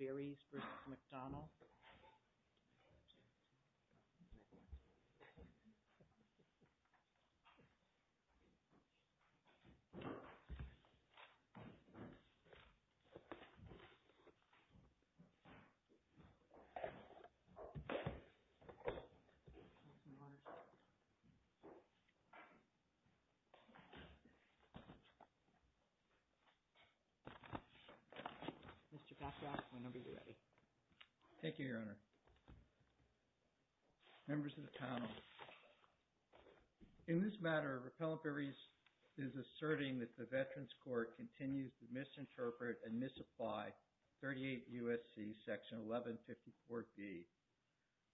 Vares v. McDonald Mr. McCrozza, your number is ready. Thank you, Your Honor. Members of the panel, in this matter, Rappellant Barries is asserting that the Veterans Court continues to misinterpret and misapply 38 U.S.C. section 1154B,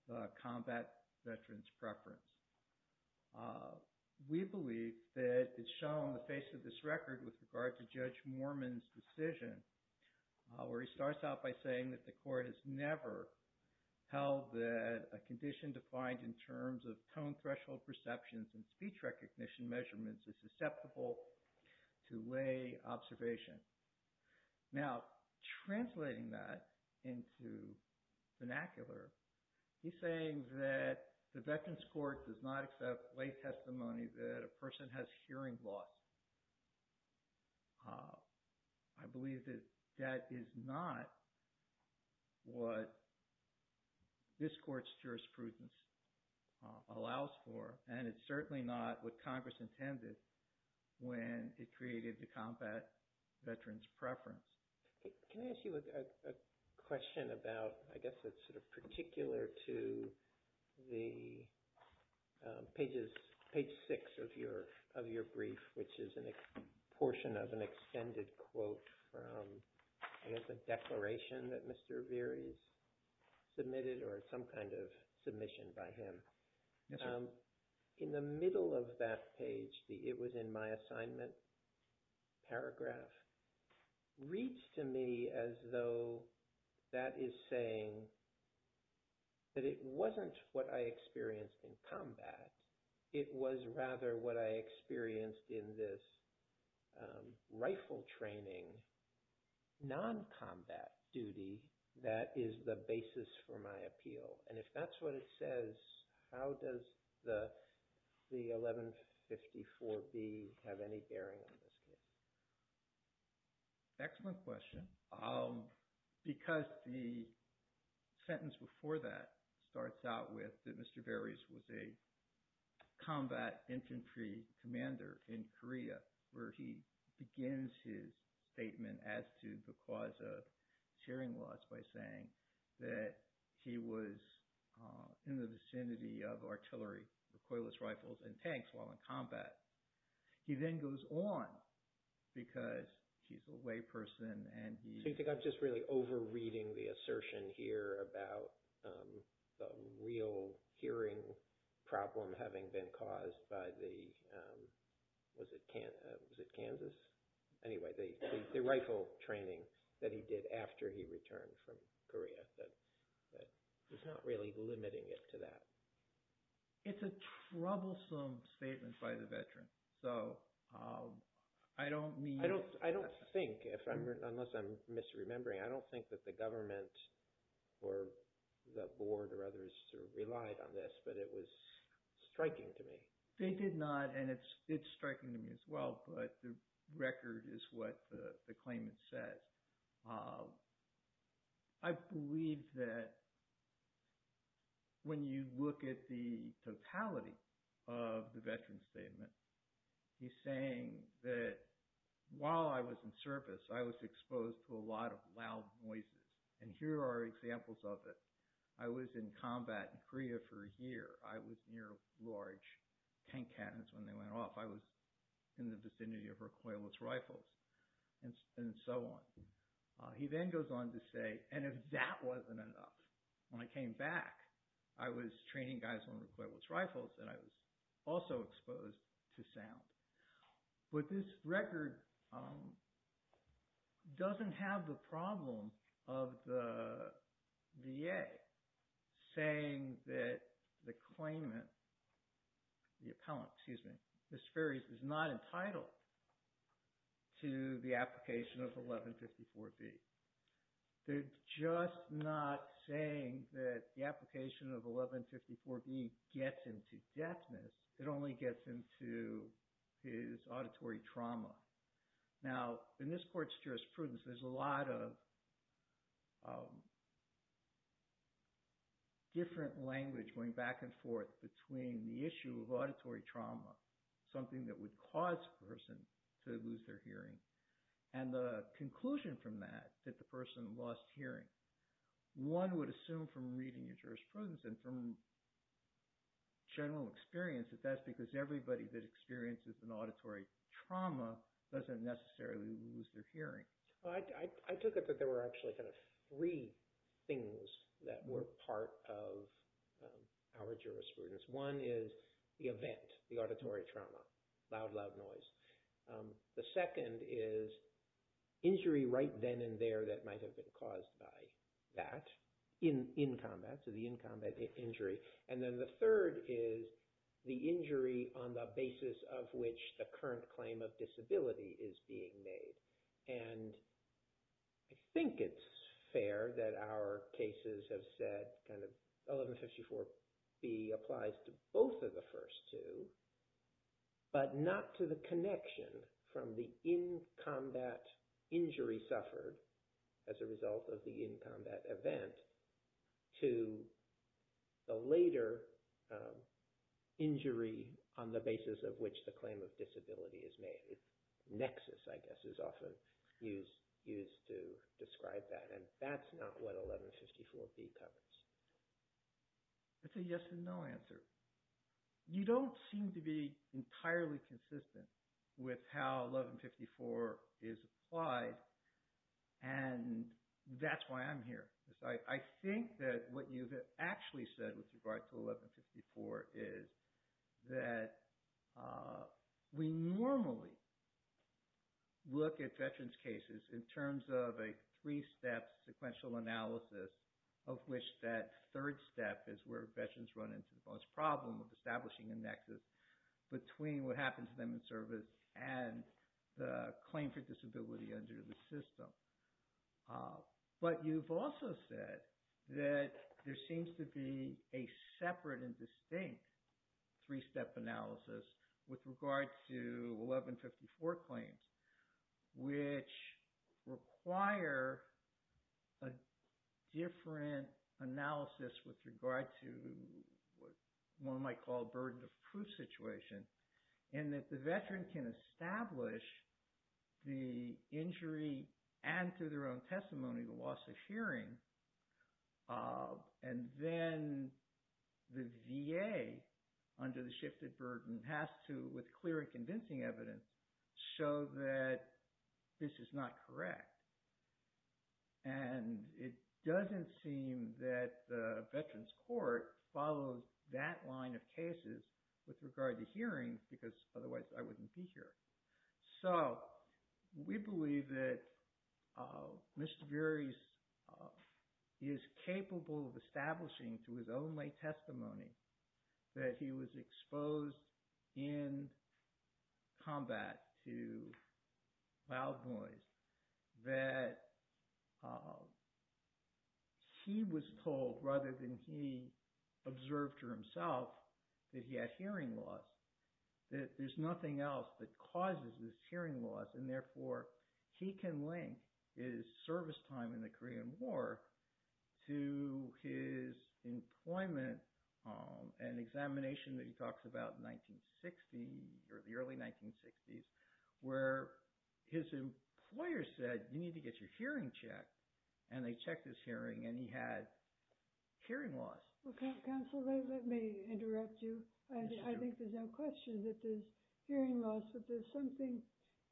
the combat veteran's preference. We believe that it's shown on the face of this record with regard to Judge Moorman's decision where he starts out by saying that the court has never held that a condition defined in terms of tone threshold perceptions and speech recognition measurements is susceptible to lay observation. Now translating that into vernacular, he's saying that the Veterans Court does not accept lay testimony that a person has hearing loss. I believe that that is not what this court's jurisprudence allows for, and it's certainly not what Congress intended when it created the combat veteran's preference. Can I ask you a question about, I guess it's sort of particular to the pages, page six of your brief, which is a portion of an extended quote from, I guess, a declaration that Mr. Verri's submitted or some kind of submission by him. In the middle of that page, it was in my assignment, paragraph, reads to me as though that is saying that it wasn't what I experienced in combat. It was rather what I experienced in this rifle training, non-combat duty that is the basis for my appeal. And if that's what it says, how does the 1154B have any bearing on this case? Excellent question. Because the sentence before that starts out with that Mr. Verri's was a combat infantry commander in Korea, where he begins his statement as to the cause of hearing loss by saying that he was in the vicinity of artillery, recoilless rifles, and tanks while in combat. He then goes on, because he's a way person and he- So you think I'm just really over-reading the assertion here about the real hearing problem having been caused by the, was it Kansas, anyway, the rifle training that he did after he returned from Korea, that it's not really limiting it to that. It's a troublesome statement by the veteran, so I don't mean- I don't think, unless I'm misremembering, I don't think that the government or the board or others relied on this, but it was striking to me. They did not, and it's striking to me as well, but the record is what the claimant says. I believe that when you look at the totality of the veteran's statement, he's saying that while I was in service, I was exposed to a lot of loud noises, and here are examples of it. I was near large tank cannons when they went off. I was in the vicinity of recoilless rifles, and so on. He then goes on to say, and if that wasn't enough, when I came back, I was training guys on recoilless rifles, and I was also exposed to sound, but this record doesn't have the problem of the VA saying that the claimant, the appellant, excuse me, Ms. Ferris, is not entitled to the application of 1154B. They're just not saying that the application of 1154B gets him to death, it only gets him to his auditory trauma. Now, in this court's jurisprudence, there's a lot of different language going back and forth between the issue of auditory trauma, something that would cause a person to lose their hearing, and the conclusion from that, that the person lost hearing. One would assume from reading your jurisprudence and from general experience that that's because everybody that experiences an auditory trauma doesn't necessarily lose their hearing. I took it that there were actually three things that were part of our jurisprudence. One is the event, the auditory trauma, loud, loud noise. The second is injury right then and there that might have been caused by that, in combat, so the in combat injury. Then the third is the injury on the basis of which the current claim of disability is being made. I think it's fair that our cases have said 1154B applies to both of the first two, but not to the connection from the in combat injury suffered as a result of the in combat event to the later injury on the basis of which the claim of disability is made. Nexus, I guess, is often used to describe that, and that's not what 1154B covers. It's a yes and no answer. You don't seem to be entirely consistent with how 1154 is applied, and that's why I'm here. I think that what you've actually said with regard to 1154 is that we normally look at veterans' cases in terms of a three-step sequential analysis of which that third step is where veterans run into the most problem of establishing a nexus between what happens to them in service and the claim for disability under the system. But you've also said that there seems to be a separate and distinct three-step analysis with regard to 1154 claims, which require a different analysis with regard to what one and through their own testimony, the loss of hearing, and then the VA under the shifted burden has to, with clear and convincing evidence, show that this is not correct. And it doesn't seem that the Veterans Court follows that line of cases with regard to hearings because otherwise I wouldn't be here. So we believe that Mr. Veres is capable of establishing through his own late testimony that he was exposed in combat to loud noise, that he was told rather than he observed for that there's nothing else that causes this hearing loss, and therefore he can link his service time in the Korean War to his employment and examination that he talks about in 1960 or the early 1960s where his employer said, you need to get your hearing checked, and they checked his hearing and he had hearing loss. Well, counsel, let me interrupt you. I think there's no question that there's hearing loss, but there's something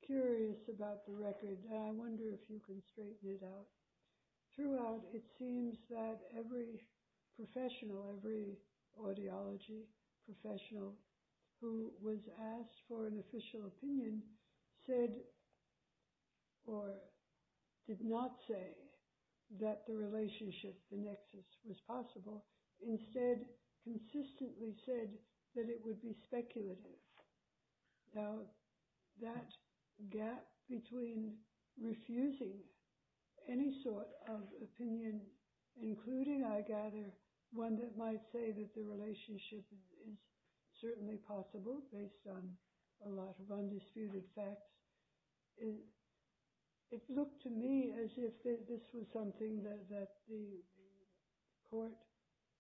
curious about the record, and I wonder if you can straighten it out. Throughout, it seems that every professional, every audiology professional who was asked for an official opinion said or did not say that the relationship, the nexus, was possible. Instead, consistently said that it would be speculative. Now, that gap between refusing any sort of opinion, including, I gather, one that might say that the relationship is certainly possible based on a lot of undisputed facts, it looked to me as if this was something that the court,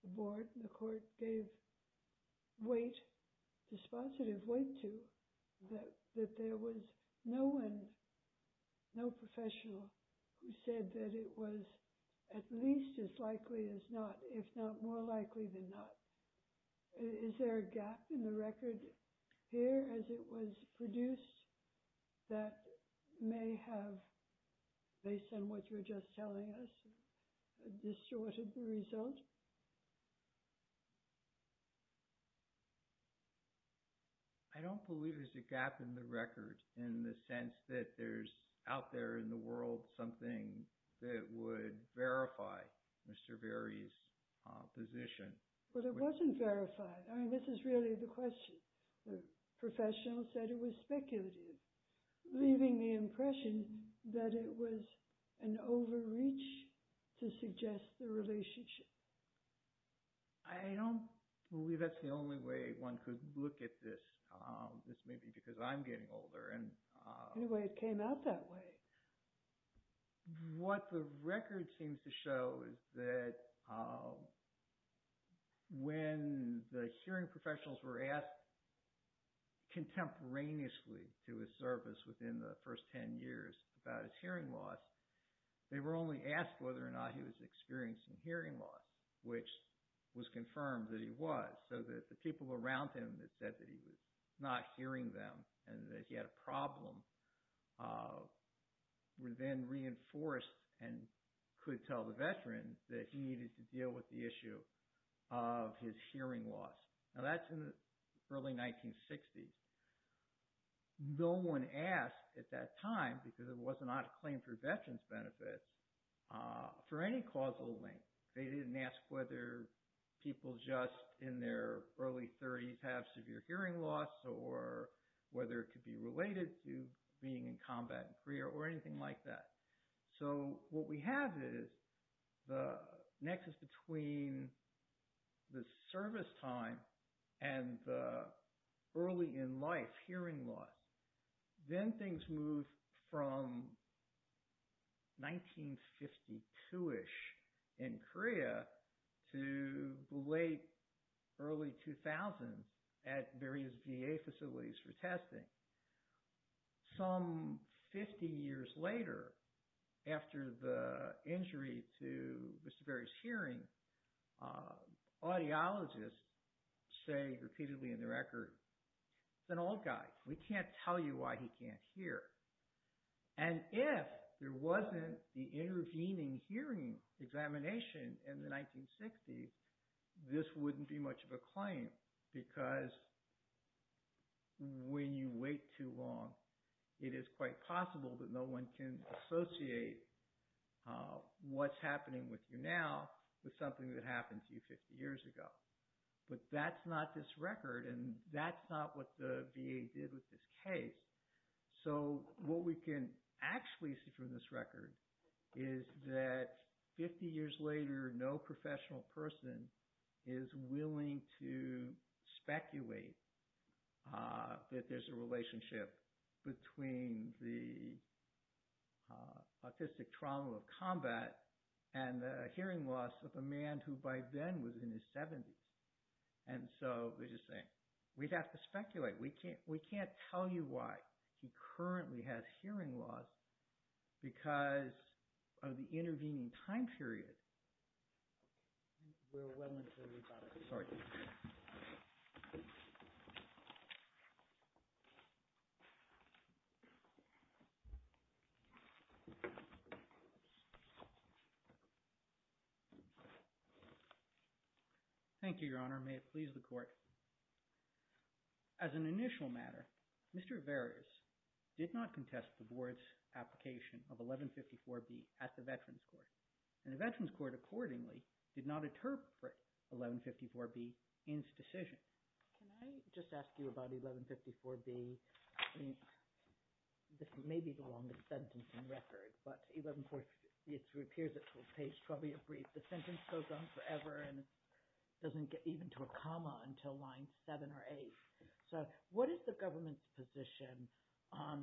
the board, the court gave weight, dispositive weight to, that there was no one, no professional who said that it was at least as likely as not more likely than not. Is there a gap in the record here as it was produced that may have, based on what you were just telling us, distorted the result? I don't believe there's a gap in the record in the sense that there's out there in the But it wasn't verified. I mean, this is really the question. The professional said it was speculative, leaving the impression that it was an overreach to suggest the relationship. I don't believe that's the only way one could look at this. This may be because I'm getting older. Anyway, it came out that way. What the record seems to show is that when the hearing professionals were asked contemporaneously to a service within the first 10 years about his hearing loss, they were only asked whether or not he was experiencing hearing loss, which was confirmed that he was, so that the people around him that said that he was not hearing them and that he had a problem were then reinforced and could tell the veteran that he needed to deal with the issue of his hearing loss. Now, that's in the early 1960s. No one asked at that time, because it was not a claim for veterans' benefits, for any causal link. They didn't ask whether people just in their early 30s have severe hearing loss or whether it could be related to being in combat in Korea or anything like that. So what we have is the nexus between the service time and the early in life hearing loss. Then things moved from 1952-ish in Korea to the late early 2000s at various VA facilities for testing. Some 50 years later, after the injury to Mr. Berry's hearing, audiologists say repeatedly in the record, it's an old guy. We can't tell you why he can't hear. If there wasn't the intervening hearing examination in the 1960s, this wouldn't be much of a claim, because when you wait too long, it is quite possible that no one can associate what's happening with you now with something that happened to you 50 years ago. But that's not this record, and that's not what the VA did with this case. So what we can actually see from this record is that 50 years later, no professional person is willing to speculate that there's a relationship between the autistic trauma of combat and the hearing loss of a man who by then was in his 70s. So they're just saying, we'd have to speculate. We can't tell you why he currently has hearing loss because of the intervening time period. We're well into the rebuttal. Sorry. Thank you, Your Honor. May it please the Court. As an initial matter, Mr. Averius did not contest the Board's application of 1154B at the Veterans Court, and the Veterans Court accordingly did not interpret 1154B in its decision. Can I just ask you about 1154B? This may be the longest sentence in record, but 1154B appears at page 12. The sentence goes on forever, and it doesn't get even to a comma until line 7 or 8. So what is the government's position on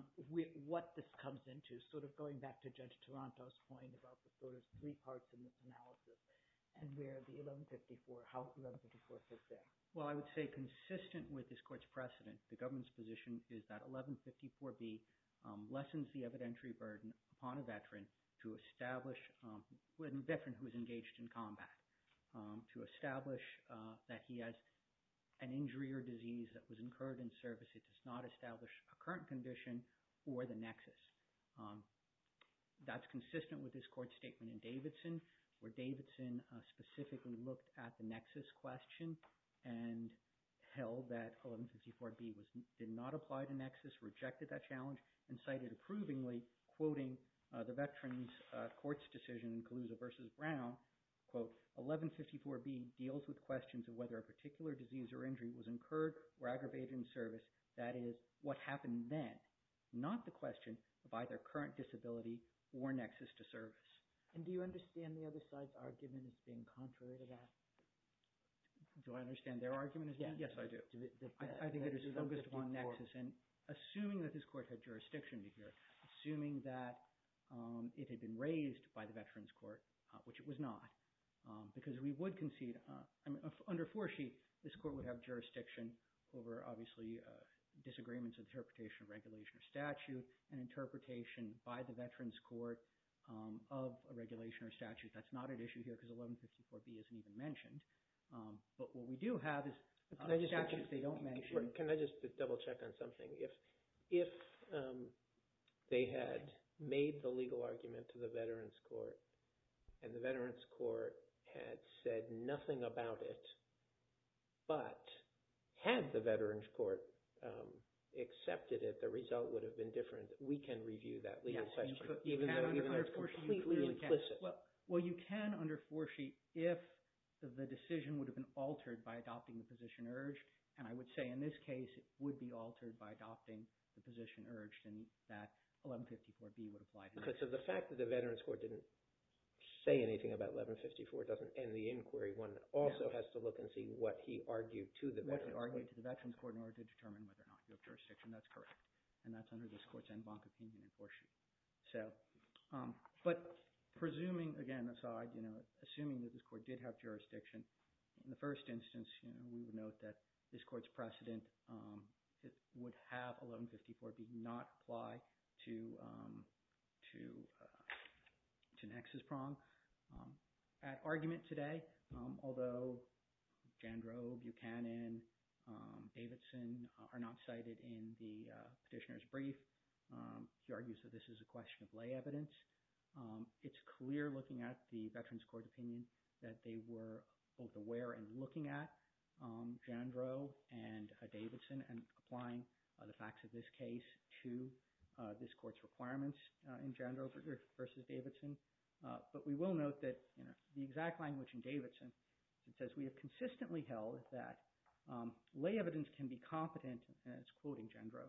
what this comes into, sort of going back to Judge Toronto's point about the sort of three parts in this analysis, and where the 1154, how 1154 fits in? Well, I would say consistent with this Court's precedent, the government's position is that 1154B lessens the evidentiary burden upon a veteran who is engaged in combat to establish that he has an injury or disease that was incurred in service. It does not establish a current condition or the nexus. That's consistent with this Court's statement in Davidson, where Davidson specifically looked at the nexus question and held that 1154B did not apply to nexus, rejected that challenge, and cited approvingly, quoting the Veterans Court's decision in Calusa v. Brown, quote, 1154B deals with questions of whether a particular disease or injury was incurred or aggravated in service, that is, what happened then, not the question of either current disability or nexus to service. And do you understand the other side's argument as being contrary to that? Do I understand their argument as being? Yes, I do. I think it is focused upon nexus, and assuming that this Court had jurisdiction to hear, assuming that it had been raised by the Veterans Court, which it was not, because we would concede, under 4C, this Court would have jurisdiction over, obviously, disagreements of interpretation of regulation or statute and interpretation by the Veterans Court of a regulation or statute. That's not at issue here, because 1154B isn't even mentioned. But what we do have is... Can I just double-check on something? If they had made the legal argument to the Veterans Court, and the Veterans Court had said nothing about it, but had the Veterans Court accepted it, the result would have been different. We can review that legal question, even though it's completely implicit. Well, you can under 4C if the decision would have been altered by adopting the position urged. And I would say, in this case, it would be altered by adopting the position urged, and that 1154B would apply to that. Because of the fact that the Veterans Court didn't say anything about 1154, it doesn't end the inquiry. One also has to look and see what he argued to the Veterans Court. What he argued to the Veterans Court in order to determine whether or not you have jurisdiction. That's correct. And that's under this Court's en banc opinion in 4C. But presuming, again, aside, assuming that this Court did have jurisdiction, in the first instance, we would note that this Court's precedent would have 1154B not apply to the nexus prong. At argument today, although Jandreau, Buchanan, Davidson are not cited in the petitioner's brief, he argues that this is a question of lay evidence. It's clear looking at the Veterans Court opinion that they were both aware and looking at Jandreau and Davidson and applying the facts of this case to this Court's requirements in Jandreau versus Davidson. But we will note that the exact language in Davidson, it says, we have consistently held that lay evidence can be competent, and it's quoting Jandreau,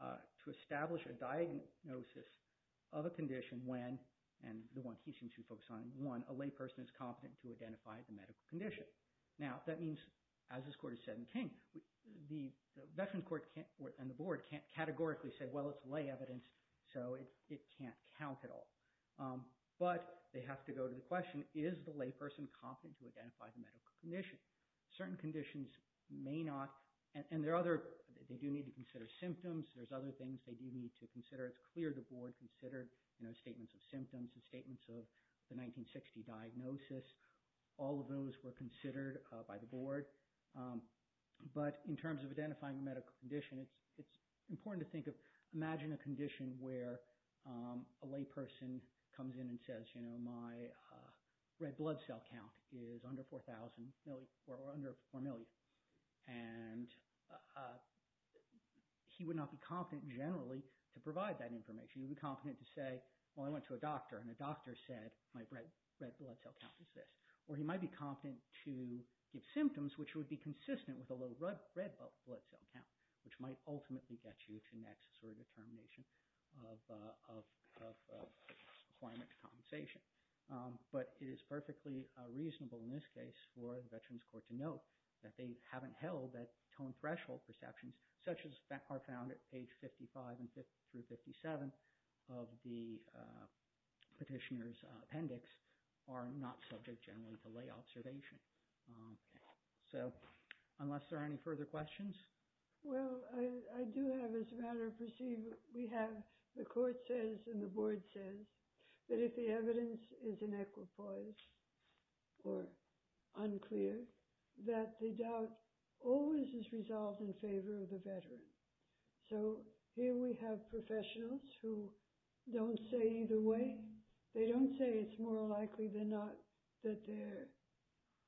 to establish a diagnosis of a condition when, and the one he seems to focus on, one, a lay person is competent to identify the medical condition. Now, that means, as this Court has said in King, the Veterans Court and the Board can't categorically say, well, it's lay evidence, so it can't count at all. But they have to go to the question, is the lay person competent to identify the medical condition? Certain conditions may not, and there are other, they do need to consider symptoms. There's other things they do need to consider. It's clear the Board considered statements of symptoms and statements of the 1960 diagnosis. All of those were considered by the Board. But in terms of identifying the medical condition, it's important to think of, imagine a condition where a lay person comes in and says, you know, my red blood cell count is under 4,000 million, or under 4 million. And he would not be competent, generally, to provide that information. He would be competent to say, well, I went to a doctor, and the doctor said, my red blood cell count is this. Or he might be competent to give symptoms, which would be consistent with a low red blood cell count, which might ultimately get you to an accessory determination of a requirement to compensation. But it is perfectly reasonable in this case for the Veterans Court to note that they haven't held that tone threshold perceptions, such as that are found at page 55 through 57 of the petitioner's appendix, are not subject, generally, to lay observation. So, unless there are any further questions? Well, I do have, as a matter of procedure, we have, the Court says, and the Board says, that if the evidence is inequitous or unclear, that the doubt always is resolved in favor of the Veteran. So, here we have professionals who don't say either way. They don't say it's more likely than not that there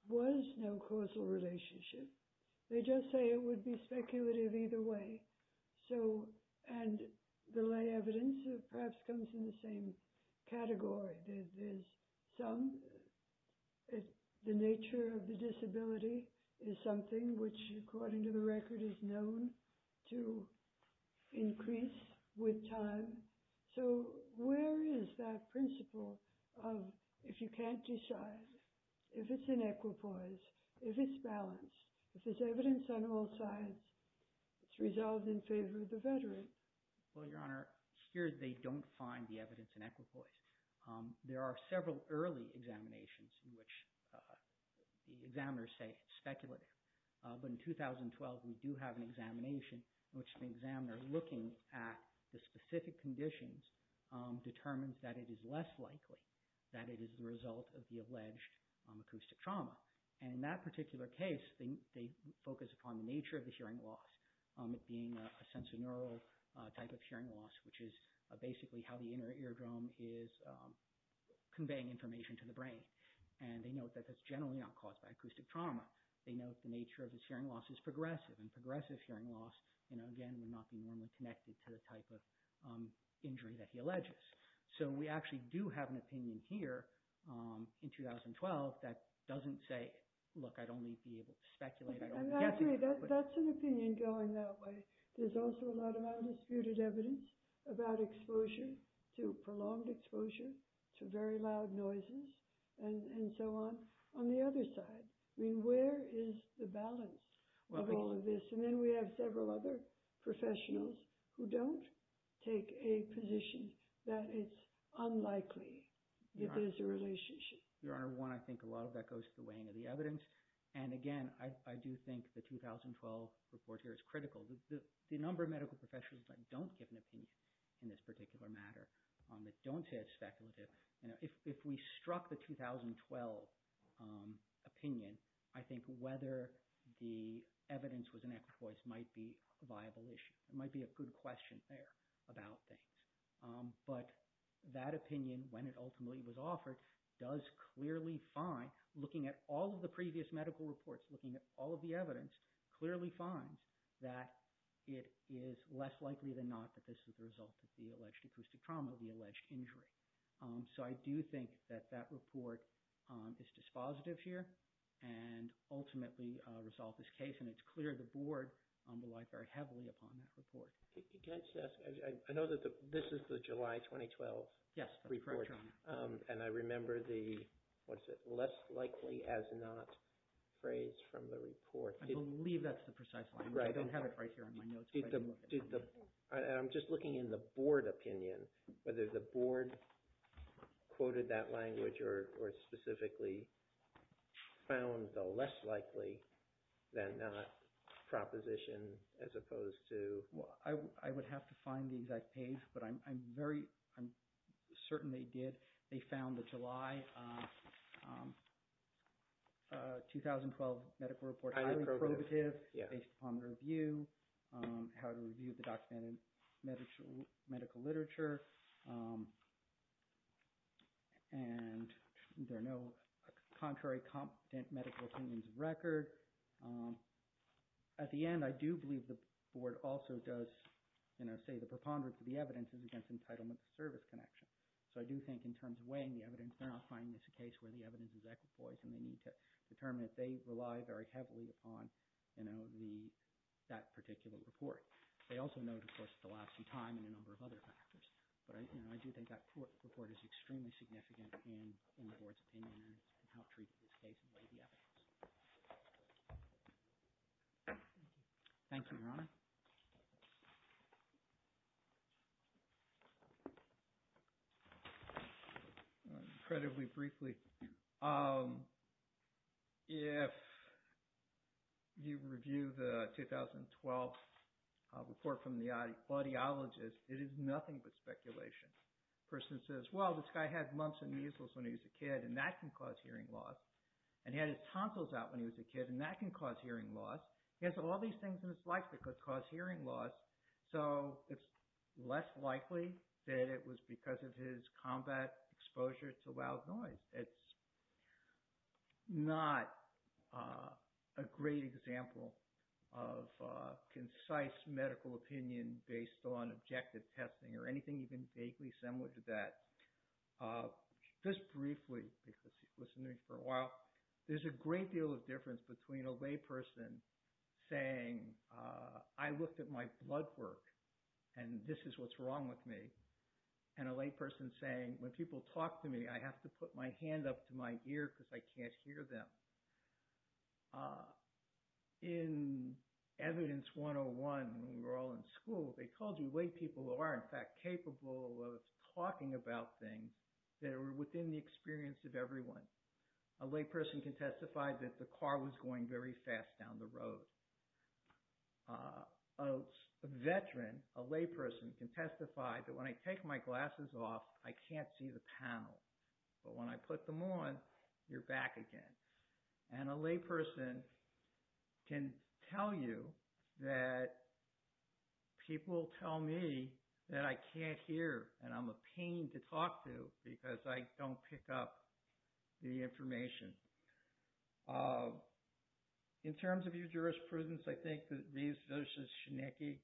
was no causal relationship. They just say it would be speculative either way. So, and the lay evidence perhaps comes in the same category. There's some, the nature of the disability is something which, according to the record, is known to increase with time. So, where is that principle of if you can't decide, if it's inequitous, if it's balanced, if there's evidence on all sides, it's resolved in favor of the Veteran? Well, Your Honor, here they don't find the evidence inequitous. There are several early examinations in which the examiners say it's speculative. But in 2012, we do have an examination in which the examiner, looking at the specific conditions, determines that it is less likely that it is the result of the alleged acoustic trauma. And in that particular case, they focus upon the nature of the hearing loss, it being a sensorineural type of hearing loss, which is basically how the inner eardrum is conveying information to the brain. And they note that that's generally not caused by acoustic trauma. They note the nature of this hearing loss is progressive. And progressive hearing loss, again, would not be normally connected to the type of injury that he alleges. So, we actually do have an opinion here in 2012 that doesn't say, look, I'd only be able to speculate. I'd only be guessing. I agree. That's an opinion going that way. There's also a lot of undisputed evidence about prolonged exposure to very loud noises and so on. On the other side, where is the balance of all of this? And then we have several other professionals who don't take a position that it's unlikely that there's a relationship. Your Honor, one, I think a lot of that goes to the weighing of the evidence. And again, I do think the 2012 report here is critical. The number of medical professionals that don't give an opinion in this particular matter, that don't say it's speculative, if we struck the 2012 opinion, I think whether the evidence was an echo voice might be a viable issue. It might be a good question there about things. But that opinion, when it ultimately was offered, does clearly find, looking at all of the previous medical reports, looking at all of the evidence, clearly finds that it is less likely than not that this is the result of the alleged acoustic trauma, the alleged injury. So I do think that that report is dispositive here and ultimately resolve this case. And it's clear the Board will rely very heavily upon that report. Can I just ask, I know that this is the July 2012 report. Yes, that's correct, Your Honor. And I remember the, what is it, less likely as not phrase from the report. I believe that's the precise language. I don't have it right here on my notes. I'm just looking in the Board opinion, whether the Board quoted that language or specifically found the less likely than not proposition as opposed to... Well, I would have to find the exact page, but I'm very, I'm certain they did. They found the July 2012 medical report highly probative, based upon the review, how to review the documented medical literature, and there are no contrary competent medical opinions of record. At the end, I do believe the Board also does, you know, say the preponderance of the evidence is against entitlement to service connection. So I do think in terms of weighing the evidence, they're not finding this a case where the evidence is equipoised and they need to determine that they rely very heavily upon, you know, the, that particular report. They also note, of course, the lapse in time and a number of other factors. But I, you know, I do think that report is extremely significant in the Board's opinion on how to treat this case and weigh the evidence. Thank you. Thank you, Your Honor. Incredibly briefly, if you review the 2012 report from the audiologist, it is nothing but speculation. The person says, well, this guy had lumps and measles when he was a kid, and that can cause hearing loss, and he had his tonsils out when he was a kid, and that can cause hearing loss. He has all these things in his life that could cause hearing loss, so it's less likely that it was because of his combat exposure to loud noise. It's not a great example of concise medical opinion based on objective testing or anything even vaguely similar to that. Just briefly, because he's listening for a while, there's a great deal of difference between a layperson saying, I looked at my blood work, and this is what's wrong with me, and a layperson saying, when people talk to me, I have to put my hand up to my ear because I can't hear them. In Evidence 101, when we were all in school, they told you laypeople are, in fact, capable of talking about things that are within the experience of everyone. A layperson can testify that the car was going very fast down the road. A veteran, a layperson, can testify that when I take my glasses off, I can't see the panel, but when I put them on, you're back again. A layperson can tell you that people tell me that I can't hear, and I'm a pain to talk to because I don't pick up the information. In terms of your jurisprudence, I think that these versus Schnecke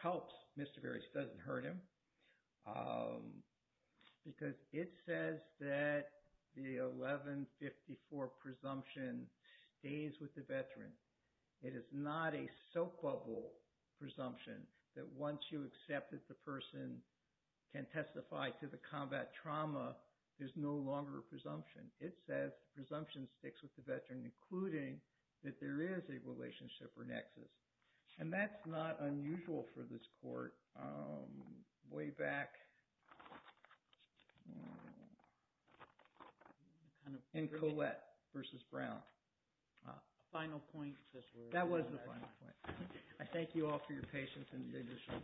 helps Mr. Beres. It doesn't hurt him because it says that the 1154 presumption stays with the veteran. It is not a soap bubble presumption that once you accept that the person can testify to the combat trauma, there's no longer a presumption. It says the presumption sticks with the veteran, including that there is a relationship or nexus, and that's not unusual for this court way back in Collette versus Brown. Final point. That was the final point. I thank you all for your patience and leadership.